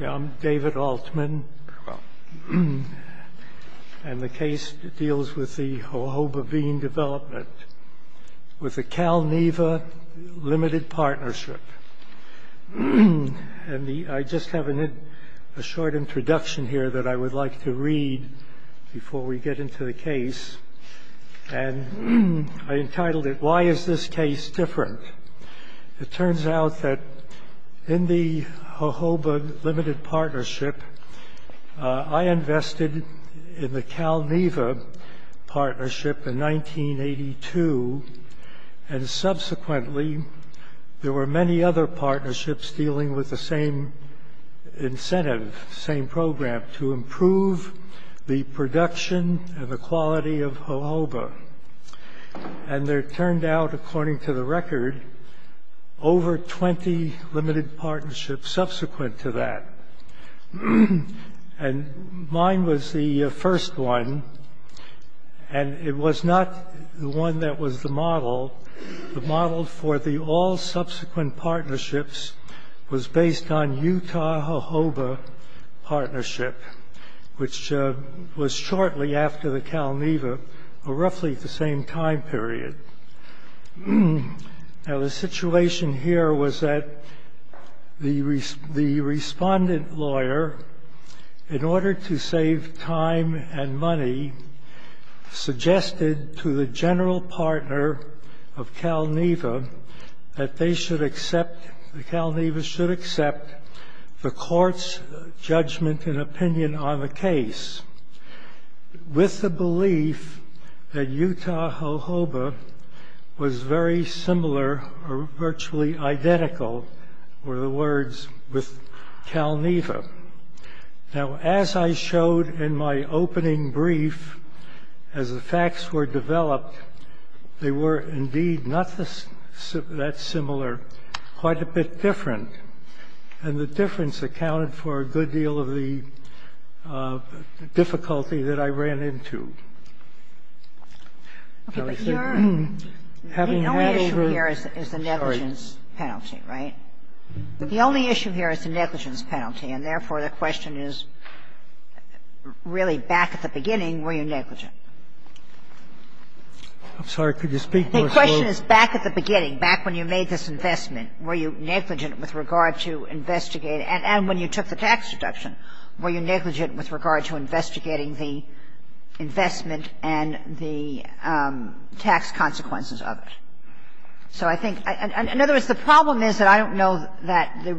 I'm David Altman, and the case deals with the jojoba bean development with the Calneva Limited Partnership. And I just have a short introduction here that I would like to read before we get into the case. And I entitled it, Why Is This Case Different? It turns out that in the jojoba limited partnership, I invested in the Calneva Partnership in 1982. And subsequently, there were many other partnerships dealing with the same incentive, same program, and there turned out, according to the record, over 20 limited partnerships subsequent to that. And mine was the first one, and it was not the one that was the model. The model for the all subsequent partnerships was based on Utah Jojoba Partnership, which was shortly after the Calneva, roughly the same time period. Now, the situation here was that the respondent lawyer, in order to save time and money, suggested to the general partner of Calneva that the Calneva should accept the court's judgment and opinion on the case with the belief that Utah Jojoba was very similar or virtually identical, were the words, with Calneva. Now, as I showed in my opening brief, as the facts were developed, they were indeed not that similar, quite a bit different. And the difference accounted for a good deal of the difficulty that I ran into. Having had a very The only issue here is the negligence penalty, right? The only issue here is the negligence penalty, and therefore, the question is, really, back at the beginning, were you negligent? I'm sorry. Could you speak more slowly? The question is, back at the beginning, back when you made this investment, were you negligent with regard to investigating? And when you took the tax deduction, were you negligent with regard to investigating the investment and the tax consequences of it? So I think, in other words, the problem is that I don't know that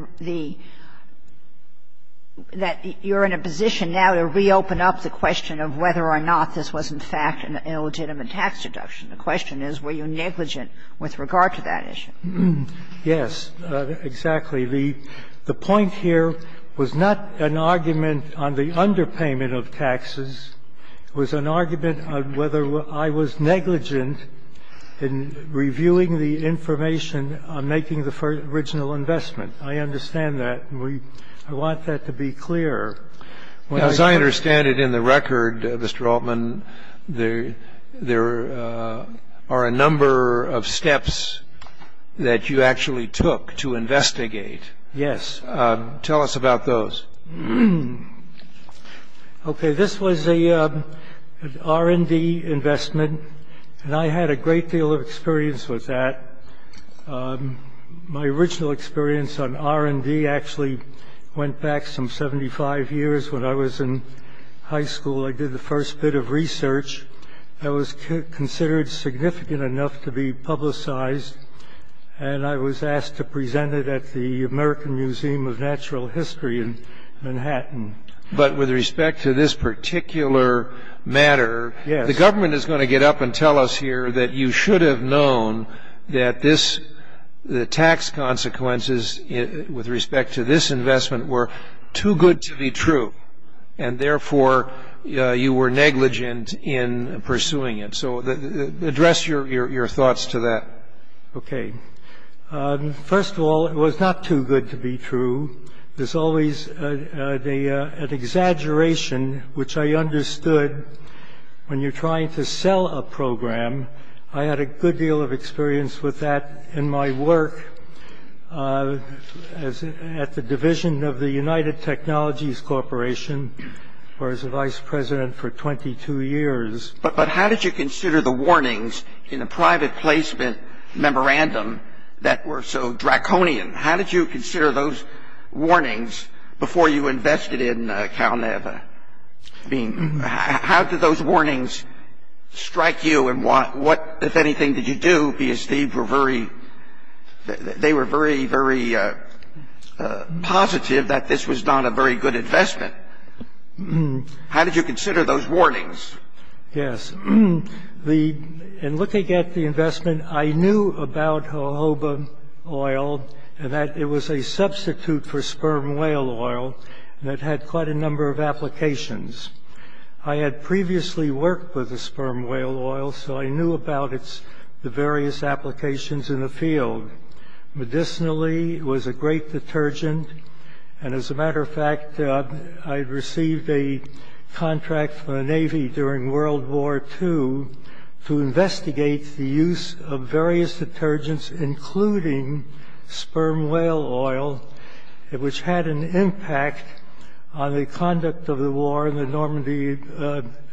you're in a position now to reopen up the question of whether or not this was, in fact, an illegitimate tax deduction. The question is, were you negligent with regard to that issue? Yes, exactly. The point here was not an argument on the underpayment of taxes. It was an argument on whether I was negligent in reviewing the information on making the original investment. I understand that, and I want that to be clear. As I understand it in the record, Mr. Altman, there are a number of steps that you actually took to investigate. Yes. Tell us about those. OK, this was a R&D investment, and I had a great deal of experience with that. My original experience on R&D actually went back some 75 years. When I was in high school, I did the first bit of research that was considered significant enough to be publicized, and I was asked to present it at the American Museum of Natural History in Manhattan. But with respect to this particular matter, the government is going to get up and tell us here that you should have known that the tax consequences with respect to this investment were too good to be true, and therefore, you were negligent in pursuing it. So address your thoughts to that. OK. First of all, it was not too good to be true. There's always an exaggeration, which I understood when you're trying to sell a program. I had a good deal of experience with that in my work at the division of the United Technologies Corporation where I was the vice president for 22 years. But how did you consider the warnings in the private placement memorandum that were so draconian? How did you consider those warnings before you invested in CalNeva? How did those warnings strike you? And what, if anything, did you do? Because they were very positive that this was not a very good investment. How did you consider those warnings? Yes. In looking at the investment, I knew about jojoba oil and that it was a substitute for sperm whale oil that had quite a number of applications. I had previously worked with the sperm whale oil, so I knew about the various applications in the field. Medicinally, it was a great detergent. And as a matter of fact, I had received a contract from the Navy during World War II to investigate the use of various detergents, including sperm whale oil, which had an impact on the conduct of the war in the Normandy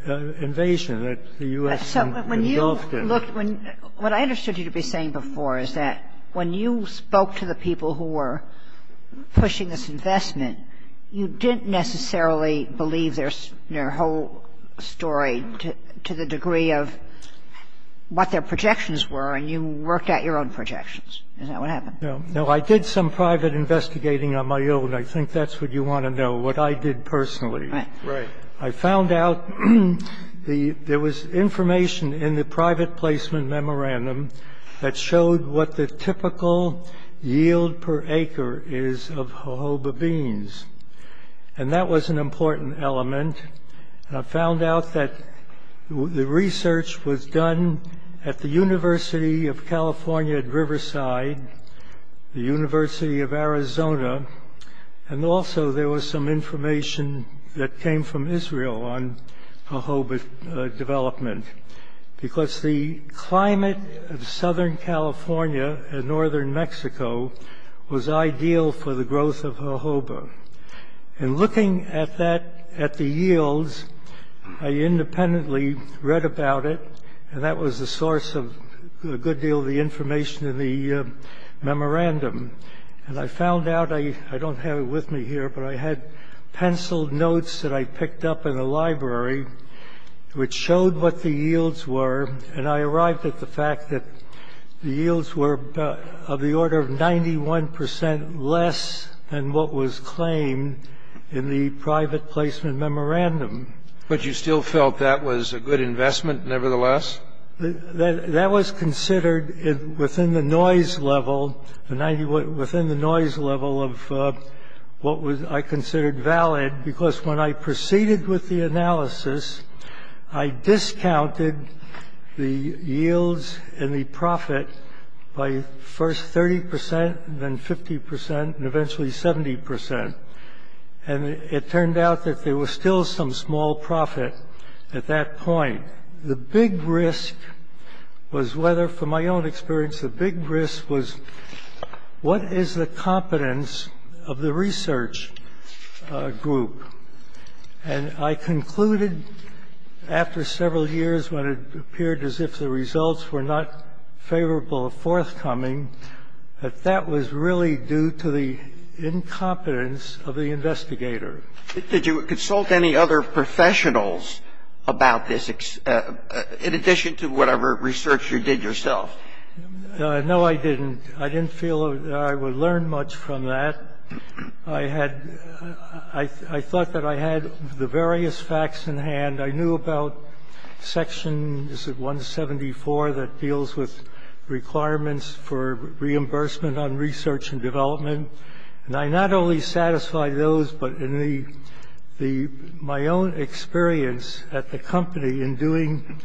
invasion that the US had indulged in. What I understood you to be saying before is that when you spoke to the people who were pushing this investment, you didn't necessarily believe their whole story to the degree of what their projections were. And you worked out your own projections. Is that what happened? No, I did some private investigating on my own. I think that's what you want to know, what I did personally. Right. Right. I found out there was information in the private placement memorandum that showed what the typical yield per acre is of jojoba beans. And that was an important element. I found out that the research was done at the University of California at Riverside, the University of Arizona. And also, there was some information that came from Israel on jojoba development. Because the climate of Southern California and Northern Mexico was ideal for the growth of jojoba. And looking at the yields, I independently read about it. And that was the source of a good deal of the information in the memorandum. And I found out, I don't have it with me here, but I had penciled notes that I picked up in the library, which showed what the yields were. And I arrived at the fact that the yields were of the order of 91% less than what was claimed in the private placement memorandum. But you still felt that was a good investment, nevertheless? That was considered within the noise level of what I considered valid. Because when I proceeded with the analysis, I discounted the yields and the profit by first 30%, then 50%, and eventually 70%. And it turned out that there was still some small profit at that point. The big risk was whether, from my own experience, the big risk was, what is the competence of the research group? And I concluded, after several years when it appeared as if the results were not favorable of forthcoming, that that was really due to the incompetence of the investigator. Did you consult any other professionals about this, in addition to whatever research you did yourself? No, I didn't. I didn't feel I would learn much from that. I thought that I had the various facts in hand. I knew about Section 174 that deals with requirements for reimbursement on research and development. And I not only satisfied those, but in my own experience at the company in doing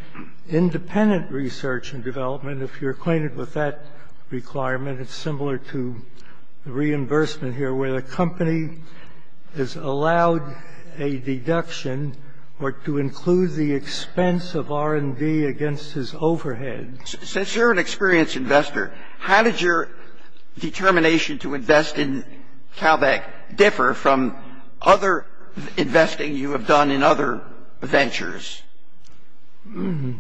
independent research and development, if you're acquainted with that requirement, it's similar to the reimbursement here, where the company is allowed a deduction or to include the expense of R&D against his overhead. Since you're an experienced investor, how did your determination to invest in CalVac differ from other investing you have done in other ventures? Mm-hmm.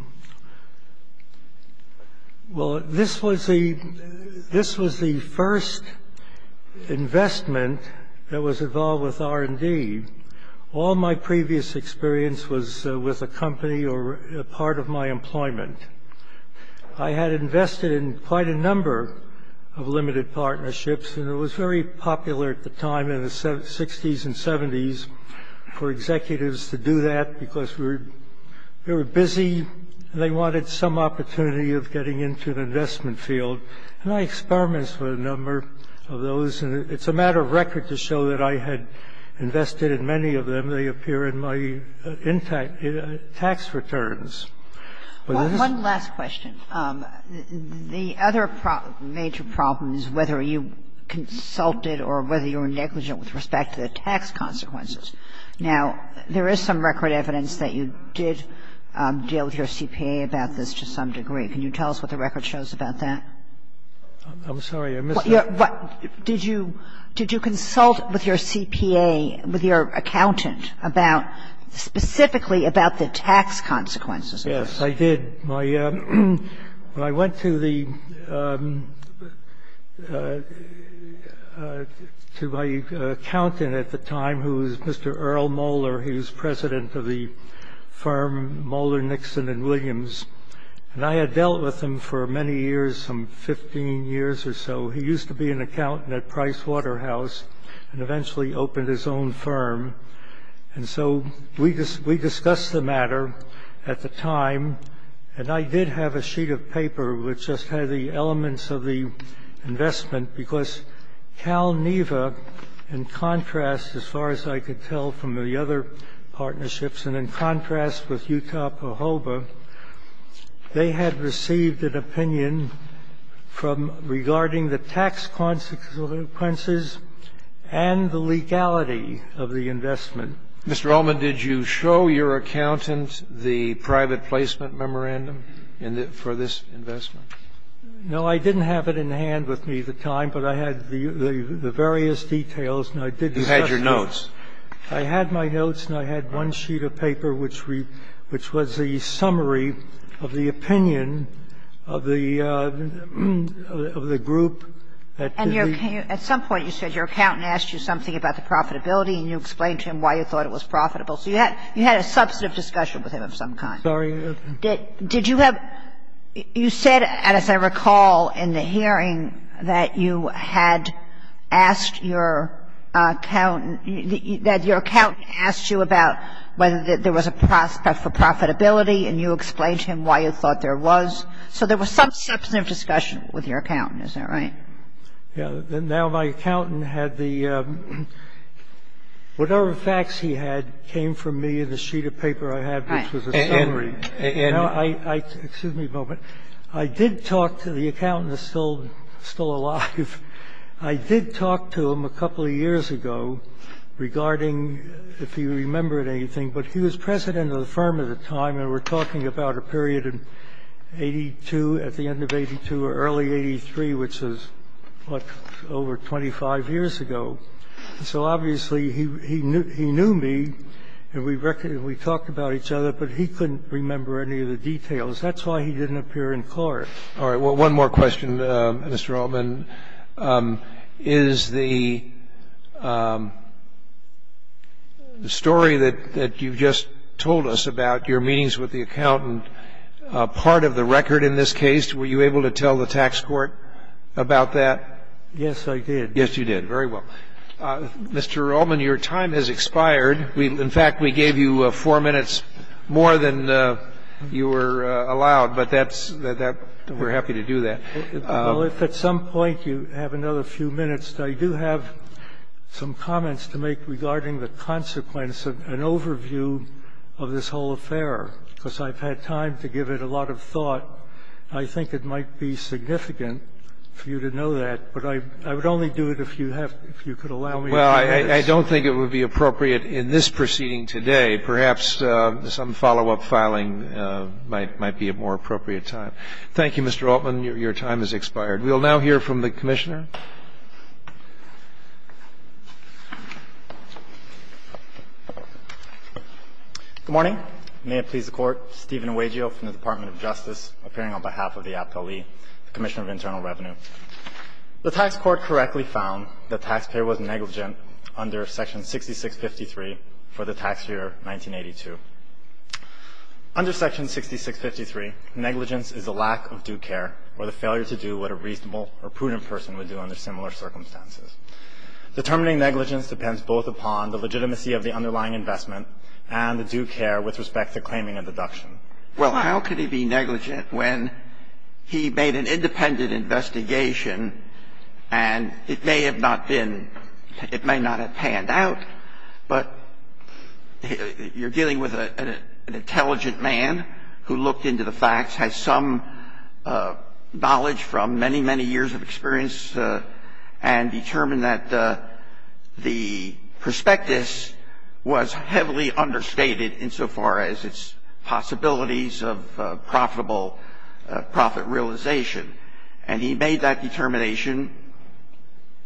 Well, this was the first investment that was involved with R&D. All my previous experience was with a company or a part of my employment. I had invested in quite a number of limited partnerships. And it was very popular at the time in the 60s and 70s for executives to do that because we were busy and they wanted some opportunity of getting into an investment field. And I experimented with a number of those. And it's a matter of record to show that I had invested in many of them. They appear in my tax returns. One last question. The other major problem is whether you consulted or whether you were negligent with respect to the tax consequences. Now, there is some record evidence that you did deal with your CPA about this to some degree. Can you tell us what the record shows about that? I'm sorry. I missed that. What? Did you consult with your CPA, with your accountant, about specifically about the tax consequences? Yes, I did. I went to my accountant at the time, who was Mr. Earl Moller. He was president of the firm Moller, Nixon, and Williams. And I had dealt with him for many years, some 15 years or so. He used to be an accountant at Price Waterhouse and eventually opened his own firm. And so we discussed the matter at the time. And I did have a sheet of paper which just had the elements of the investment, because CalNEVA, in contrast, as far as I could tell from the other partnerships, and in contrast with Utah, Pahoa, they had received an opinion regarding the tax consequences and the legality of the investment. Mr. Ullman, did you show your accountant the private placement memorandum for this investment? No, I didn't have it in hand with me at the time, but I had the various details. And I did discuss those. You had your notes. I had my notes, and I had one sheet of paper which was the summary of the opinion group that the group that the group that the group that the group that the group that the group that the I just reviewed. Do you think you explained to him why you thought that there was a prospect for profitability? And you explained to him why you thought it was profitable. So you had you had a substantive discussion with him of some kind. Sorry? Did you have you said and as I recall, in the hearing, that you had asked your accountant, that your accountant asked you about whether there was a prospect for profitability and you explained to him why you thought there was. So there was some substantive discussion with your accountant. Is that right? Yeah. Now my accountant had the whatever facts he had came from me in the sheet of paper I had, which was a summary. And I, excuse me a moment. I did talk to the accountant that's still alive. I did talk to him a couple of years ago regarding if he remembered anything. But he was president of the firm at the time. And we're talking about a period in 82, at the end of 82, or early 83, which is what, over 25 years ago. So obviously he knew me and we talked about each other, but he couldn't remember any of the details. That's why he didn't appear in court. All right. One more question, Mr. Altman. Is the story that you've just told us about your meetings with the accountant part of the record in this case? Were you able to tell the tax court about that? Yes, I did. Yes, you did. Very well. Mr. Altman, your time has expired. In fact, we gave you four minutes more than you were allowed. But we're happy to do that. Well, if at some point you have another few minutes, I do have some comments to make regarding the consequence of an overview of this whole affair, because I've had time to give it a lot of thought. I think it might be significant for you to know that. But I would only do it if you could allow me a few minutes. Well, I don't think it would be appropriate in this proceeding today. Perhaps some follow-up filing might be a more appropriate time. Thank you, Mr. Altman. Your time has expired. We will now hear from the Commissioner. Good morning. May it please the Court. Steven Uegio from the Department of Justice, appearing on behalf of the Apt. Lee, the Commissioner of Internal Revenue. The tax court correctly found that taxpayer was negligent under Section 6653 for the tax year 1982. Under Section 6653, negligence is a lack of due care or the failure to do what a reasonable or prudent person would do under similar circumstances. Determining negligence depends both upon the legitimacy of the underlying investment and the due care with respect to claiming a deduction. Well, how could he be negligent when he made an independent investigation and it may have not been – it may not have panned out? But you're dealing with an intelligent man who looked into the facts, has some knowledge from many, many years of experience, and determined that the prospectus was heavily understated insofar as its possibilities of profitable profit realization. And he made that determination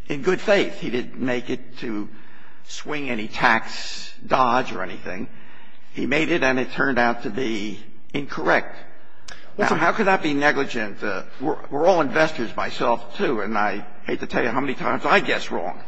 in good faith. He didn't make it to swing any tax dodge or anything. He made it and it turned out to be incorrect. So how could that be negligent? We're all investors, myself, too, and I hate to tell you how many times I guess wrong.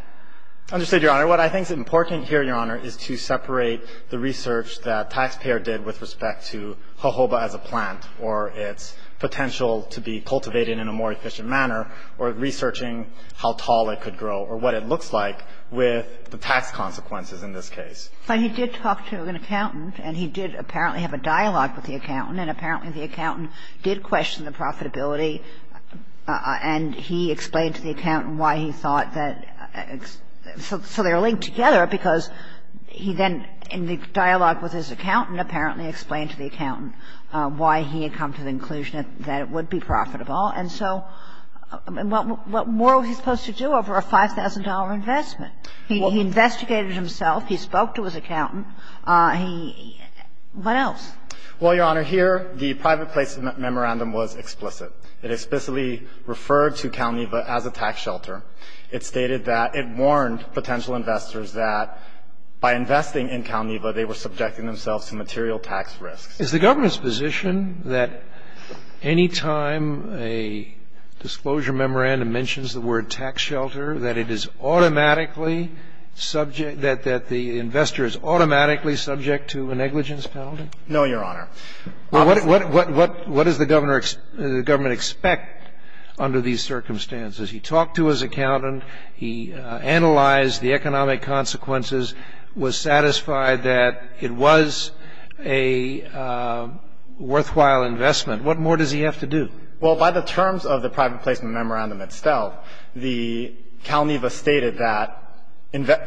Understood, Your Honor. What I think is important here, Your Honor, is to separate the research that taxpayer did with respect to jojoba as a plant or its potential to be cultivated in a more efficient manner or researching how tall it could grow or what it looks like with the tax consequences in this case. But he did talk to an accountant and he did apparently have a dialogue with the accountant and apparently the accountant did question the profitability and he explained to the accountant why he thought that – so they were linked together because he then in the dialogue with his accountant apparently explained to the accountant why he had come to the conclusion that it would be profitable. And so what more was he supposed to do over a $5,000 investment? He investigated himself. He spoke to his accountant. He – what else? Well, Your Honor, here the private place memorandum was explicit. It explicitly referred to Calneva as a tax shelter. It stated that it warned potential investors that by investing in Calneva, they were subjecting themselves to material tax risks. Is the government's position that any time a disclosure memorandum mentions the word tax shelter, that it is automatically subject – that the investor is automatically subject to a negligence penalty? No, Your Honor. Well, what does the government expect under these circumstances? He talked to his accountant. What more does he have to do? Well, by the terms of the private placement memorandum itself, Calneva stated that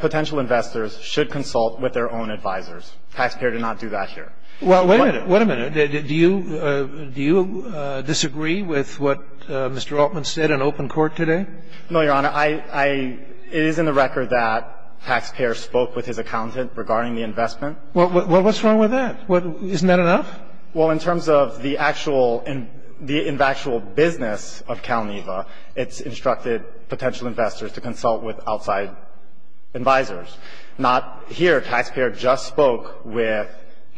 potential investors should consult with their own advisors. Taxpayer did not do that here. Wait a minute. Do you disagree with what Mr. Altman said in open court today? No, Your Honor. It is in the record that taxpayer spoke with his accountant regarding the investment. Well, what's wrong with that? Isn't that enough? Well, in terms of the actual – the actual business of Calneva, it's instructed potential investors to consult with outside advisors. Not here. Taxpayer just spoke with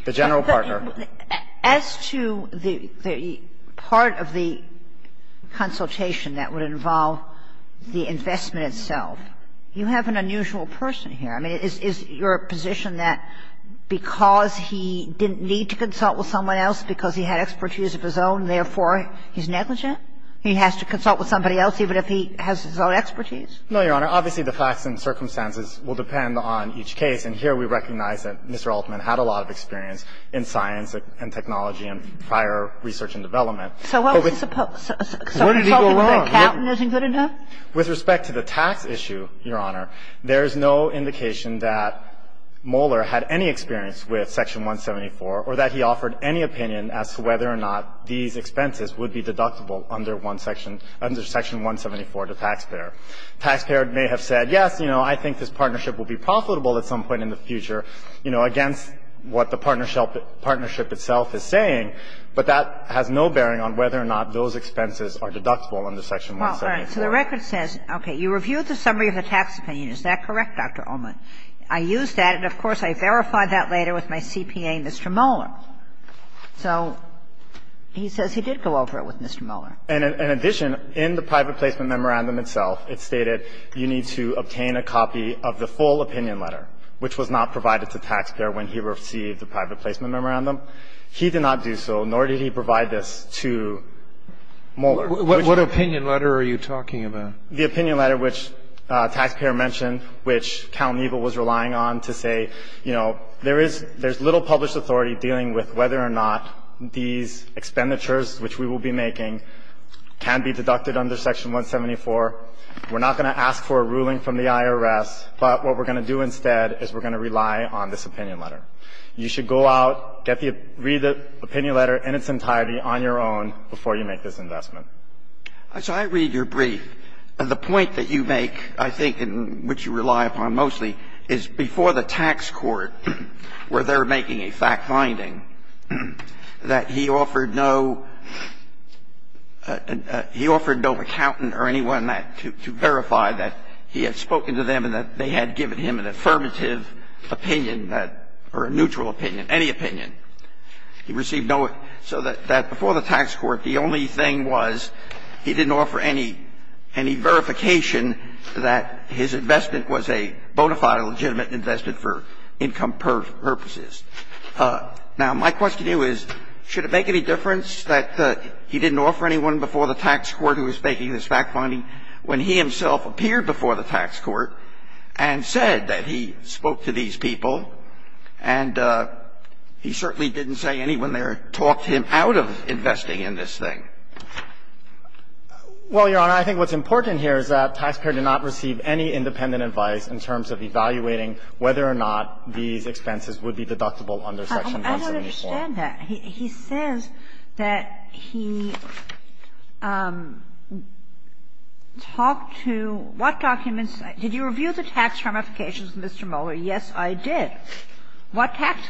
the general partner. As to the part of the consultation that would involve the investment itself, you have an unusual person here. I mean, is your position that because he didn't need to consult with someone else, because he had expertise of his own, therefore he's negligent? He has to consult with somebody else even if he has his own expertise? No, Your Honor. Obviously, the facts and circumstances will depend on each case. And here we recognize that Mr. Altman had a lot of experience in science and technology and prior research and development. So what was he supposed – so consulting with an accountant isn't good enough? With respect to the tax issue, Your Honor, there is no indication that Moller had any experience with Section 174 or that he offered any opinion as to whether or not these expenses would be deductible under one section – under Section 174 to taxpayer. Taxpayer may have said, yes, you know, I think this partnership will be profitable at some point in the future, you know, against what the partnership itself is saying, but that has no bearing on whether or not those expenses are deductible under Section 174. So the record says, okay, you reviewed the summary of the tax opinion. Is that correct, Dr. Altman? I used that, and of course I verified that later with my CPA, Mr. Moller. So he says he did go over it with Mr. Moller. And in addition, in the private placement memorandum itself, it stated you need to obtain a copy of the full opinion letter, which was not provided to the taxpayer when he received the private placement memorandum. He did not do so, nor did he provide this to Moller. What opinion letter are you talking about? The opinion letter which taxpayer mentioned, which CalNEVA was relying on to say, you know, there is – there's little published authority dealing with whether or not these expenditures which we will be making can be deducted under Section 174. We're not going to ask for a ruling from the IRS, but what we're going to do instead is we're going to rely on this opinion letter. You should go out, get the – read the opinion letter in its entirety on your own before you make this investment. So I read your brief. The point that you make, I think, and which you rely upon mostly, is before the tax court, where they're making a fact-finding, that he offered no – he offered no accountant or anyone that – to verify that he had spoken to them and that they had given him an affirmative opinion that – or a neutral opinion, any opinion. He received no – so that before the tax court, the only thing was he didn't offer any – any verification that his investment was a bona fide, legitimate investment for income purposes. Now, my question to you is, should it make any difference that he didn't offer anyone before the tax court who was making this fact-finding when he himself appeared before the tax court and said that he spoke to these people and he certainly didn't say anyone there talked him out of investing in this thing? Well, Your Honor, I think what's important here is that Taxpayer did not receive any independent advice in terms of evaluating whether or not these expenses would be deductible under Section 174. I don't understand that. He says that he talked to what documents – did you review the tax ramifications, Mr. Mohler? Yes, I did. What tax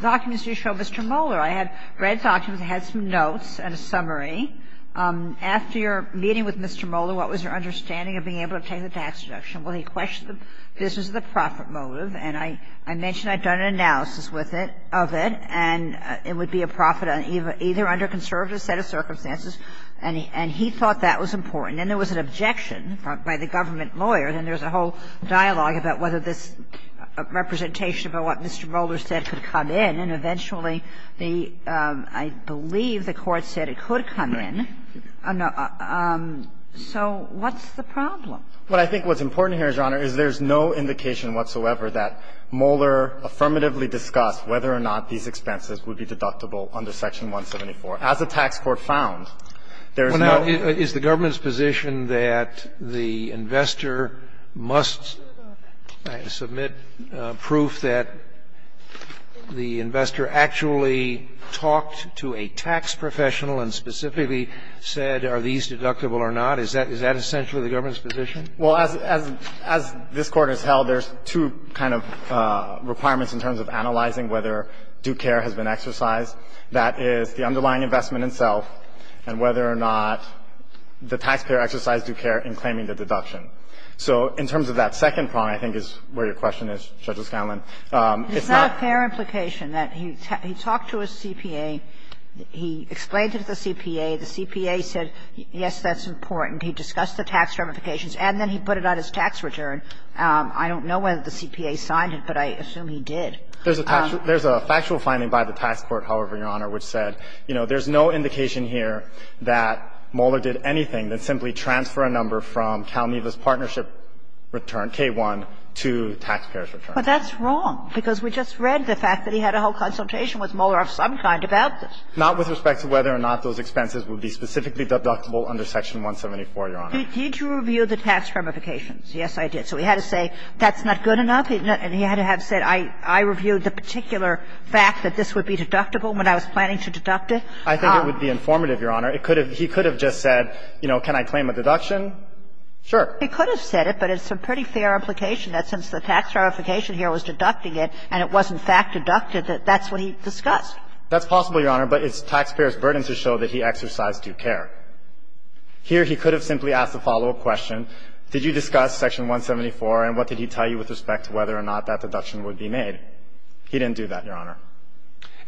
documents do you show Mr. Mohler? I had read documents. I had some notes and a summary. After your meeting with Mr. Mohler, what was your understanding of being able to take the tax deduction? Well, he questioned the business of the profit motive, and I mentioned I'd done an analysis with it – of it, and it would be a profit either under conservative set of circumstances, and he thought that was important. Then there was an objection by the government lawyer, and there's a whole dialogue about whether this representation of what Mr. Mohler said could come in, and eventually the – I believe the Court said it could come in. Right. So what's the problem? What I think what's important here, Your Honor, is there's no indication whatsoever that Mohler affirmatively discussed whether or not these expenses would be deductible under Section 174. As the tax court found, there's no – Well, now, is the government's position that the investor must submit proof that the investor actually talked to a tax professional and specifically said, are these deductible or not? Is that – is that essentially the government's position? Well, as – as this Court has held, there's two kind of requirements in terms of analyzing whether due care has been exercised. That is, the underlying investment itself, and whether or not the taxpayer exercised due care in claiming the deduction. So in terms of that second problem, I think is where your question is, Judge O'Scanlan. It's not – It's not a fair implication that he talked to his CPA, he explained to the CPA, the CPA said, yes, that's important, he discussed the tax ramifications, and then he put it on his tax return. I don't know whether the CPA signed it, but I assume he did. There's a factual finding by the tax court, however, Your Honor, which said, you know, there's no indication here that Moeller did anything that simply transfer a number from CalNEVA's partnership return, K-1, to the taxpayer's return. But that's wrong, because we just read the fact that he had a whole consultation with Moeller of some kind about this. Not with respect to whether or not those expenses would be specifically deductible under Section 174, Your Honor. Did you review the tax ramifications? Yes, I did. So he had to say, that's not good enough, and he had to have said, I reviewed the particular fact that this would be deductible when I was planning to deduct it? I think it would be informative, Your Honor. It could have – he could have just said, you know, can I claim a deduction? Sure. He could have said it, but it's a pretty fair implication that since the tax ramification here was deducting it, and it was, in fact, deducted, that that's what he discussed. That's possible, Your Honor, but it's taxpayers' burden to show that he exercised due care. Here, he could have simply asked the follow-up question, did you discuss Section 174, and what did he tell you with respect to whether or not that deduction would be made? He didn't do that, Your Honor.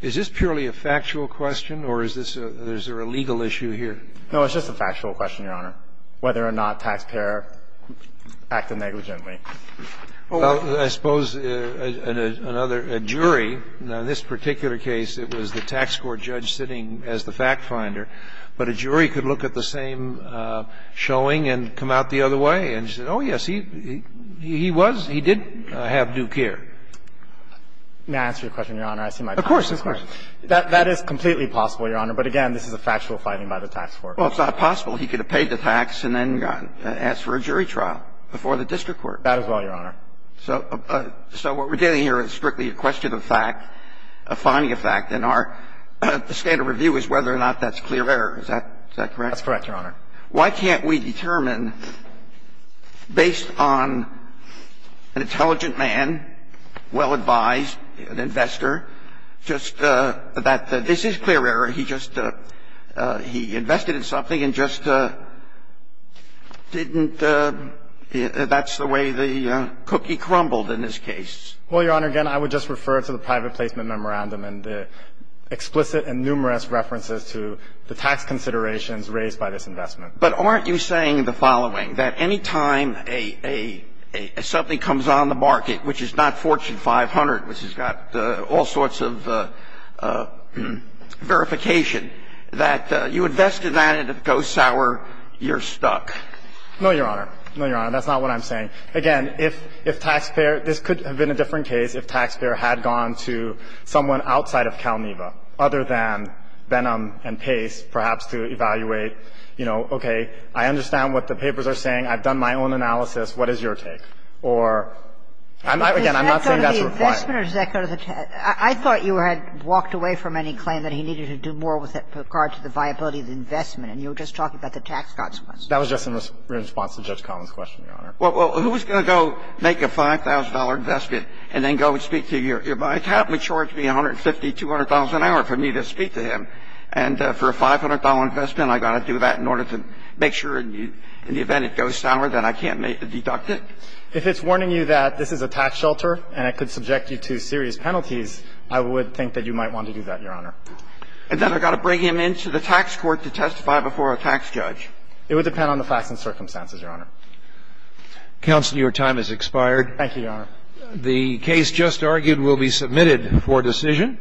Is this purely a factual question, or is this a – is there a legal issue here? No, it's just a factual question, Your Honor, whether or not taxpayer acted negligently. Well, I suppose another – a jury – now, in this particular case, it was the tax court judge sitting as the fact finder, but a jury could look at the same showing and come out the other way and say, oh, yes, he – he was – he did have due care. May I answer your question, Your Honor? I see my time is up. Of course. Of course. That is completely possible, Your Honor, but again, this is a factual finding by the tax court. Well, it's not possible. He could have paid the tax and then asked for a jury trial before the district court. That as well, Your Honor. So what we're getting here is strictly a question of fact, a finding of fact, and our – the standard review is whether or not that's clear error. Is that correct? That's correct, Your Honor. Why can't we determine, based on an intelligent man, well-advised, an investor, just that this is clear error, he just – he invested in something and just didn't – that's the way the cookie crumbled in this case? Well, Your Honor, again, I would just refer to the private placement memorandum and the explicit and numerous references to the tax considerations raised by this investment. But aren't you saying the following, that any time a – something comes on the market, which is not Fortune 500, which has got all sorts of verification, that you invested that and it goes sour, you're stuck? No, Your Honor. No, Your Honor. That's not what I'm saying. Again, if taxpayer – this could have been a different case if taxpayer had gone to someone outside of CalNEVA, other than Benham and Pace, perhaps to evaluate, you know, okay, I understand what the papers are saying, I've done my own analysis, what is your take? Or – again, I'm not saying that's a requirement. Does that go to the investment or does that go to the – I thought you had walked away from any claim that he needed to do more with regard to the viability of the investment, and you were just talking about the tax consequences. That was just in response to Judge Collins' question, Your Honor. Well, who's going to go make a $5,000 investment and then go and speak to your – my client, and then go and make $150,000, $200,000 an hour for me to speak to him? And for a $500 investment, I've got to do that in order to make sure in the event it goes sour that I can't deduct it? If it's warning you that this is a tax shelter and it could subject you to serious penalties, I would think that you might want to do that, Your Honor. And then I've got to bring him into the tax court to testify before a tax judge? It would depend on the facts and circumstances, Your Honor. Counsel, your time has expired. Thank you, Your Honor. The case just argued will be submitted for decision.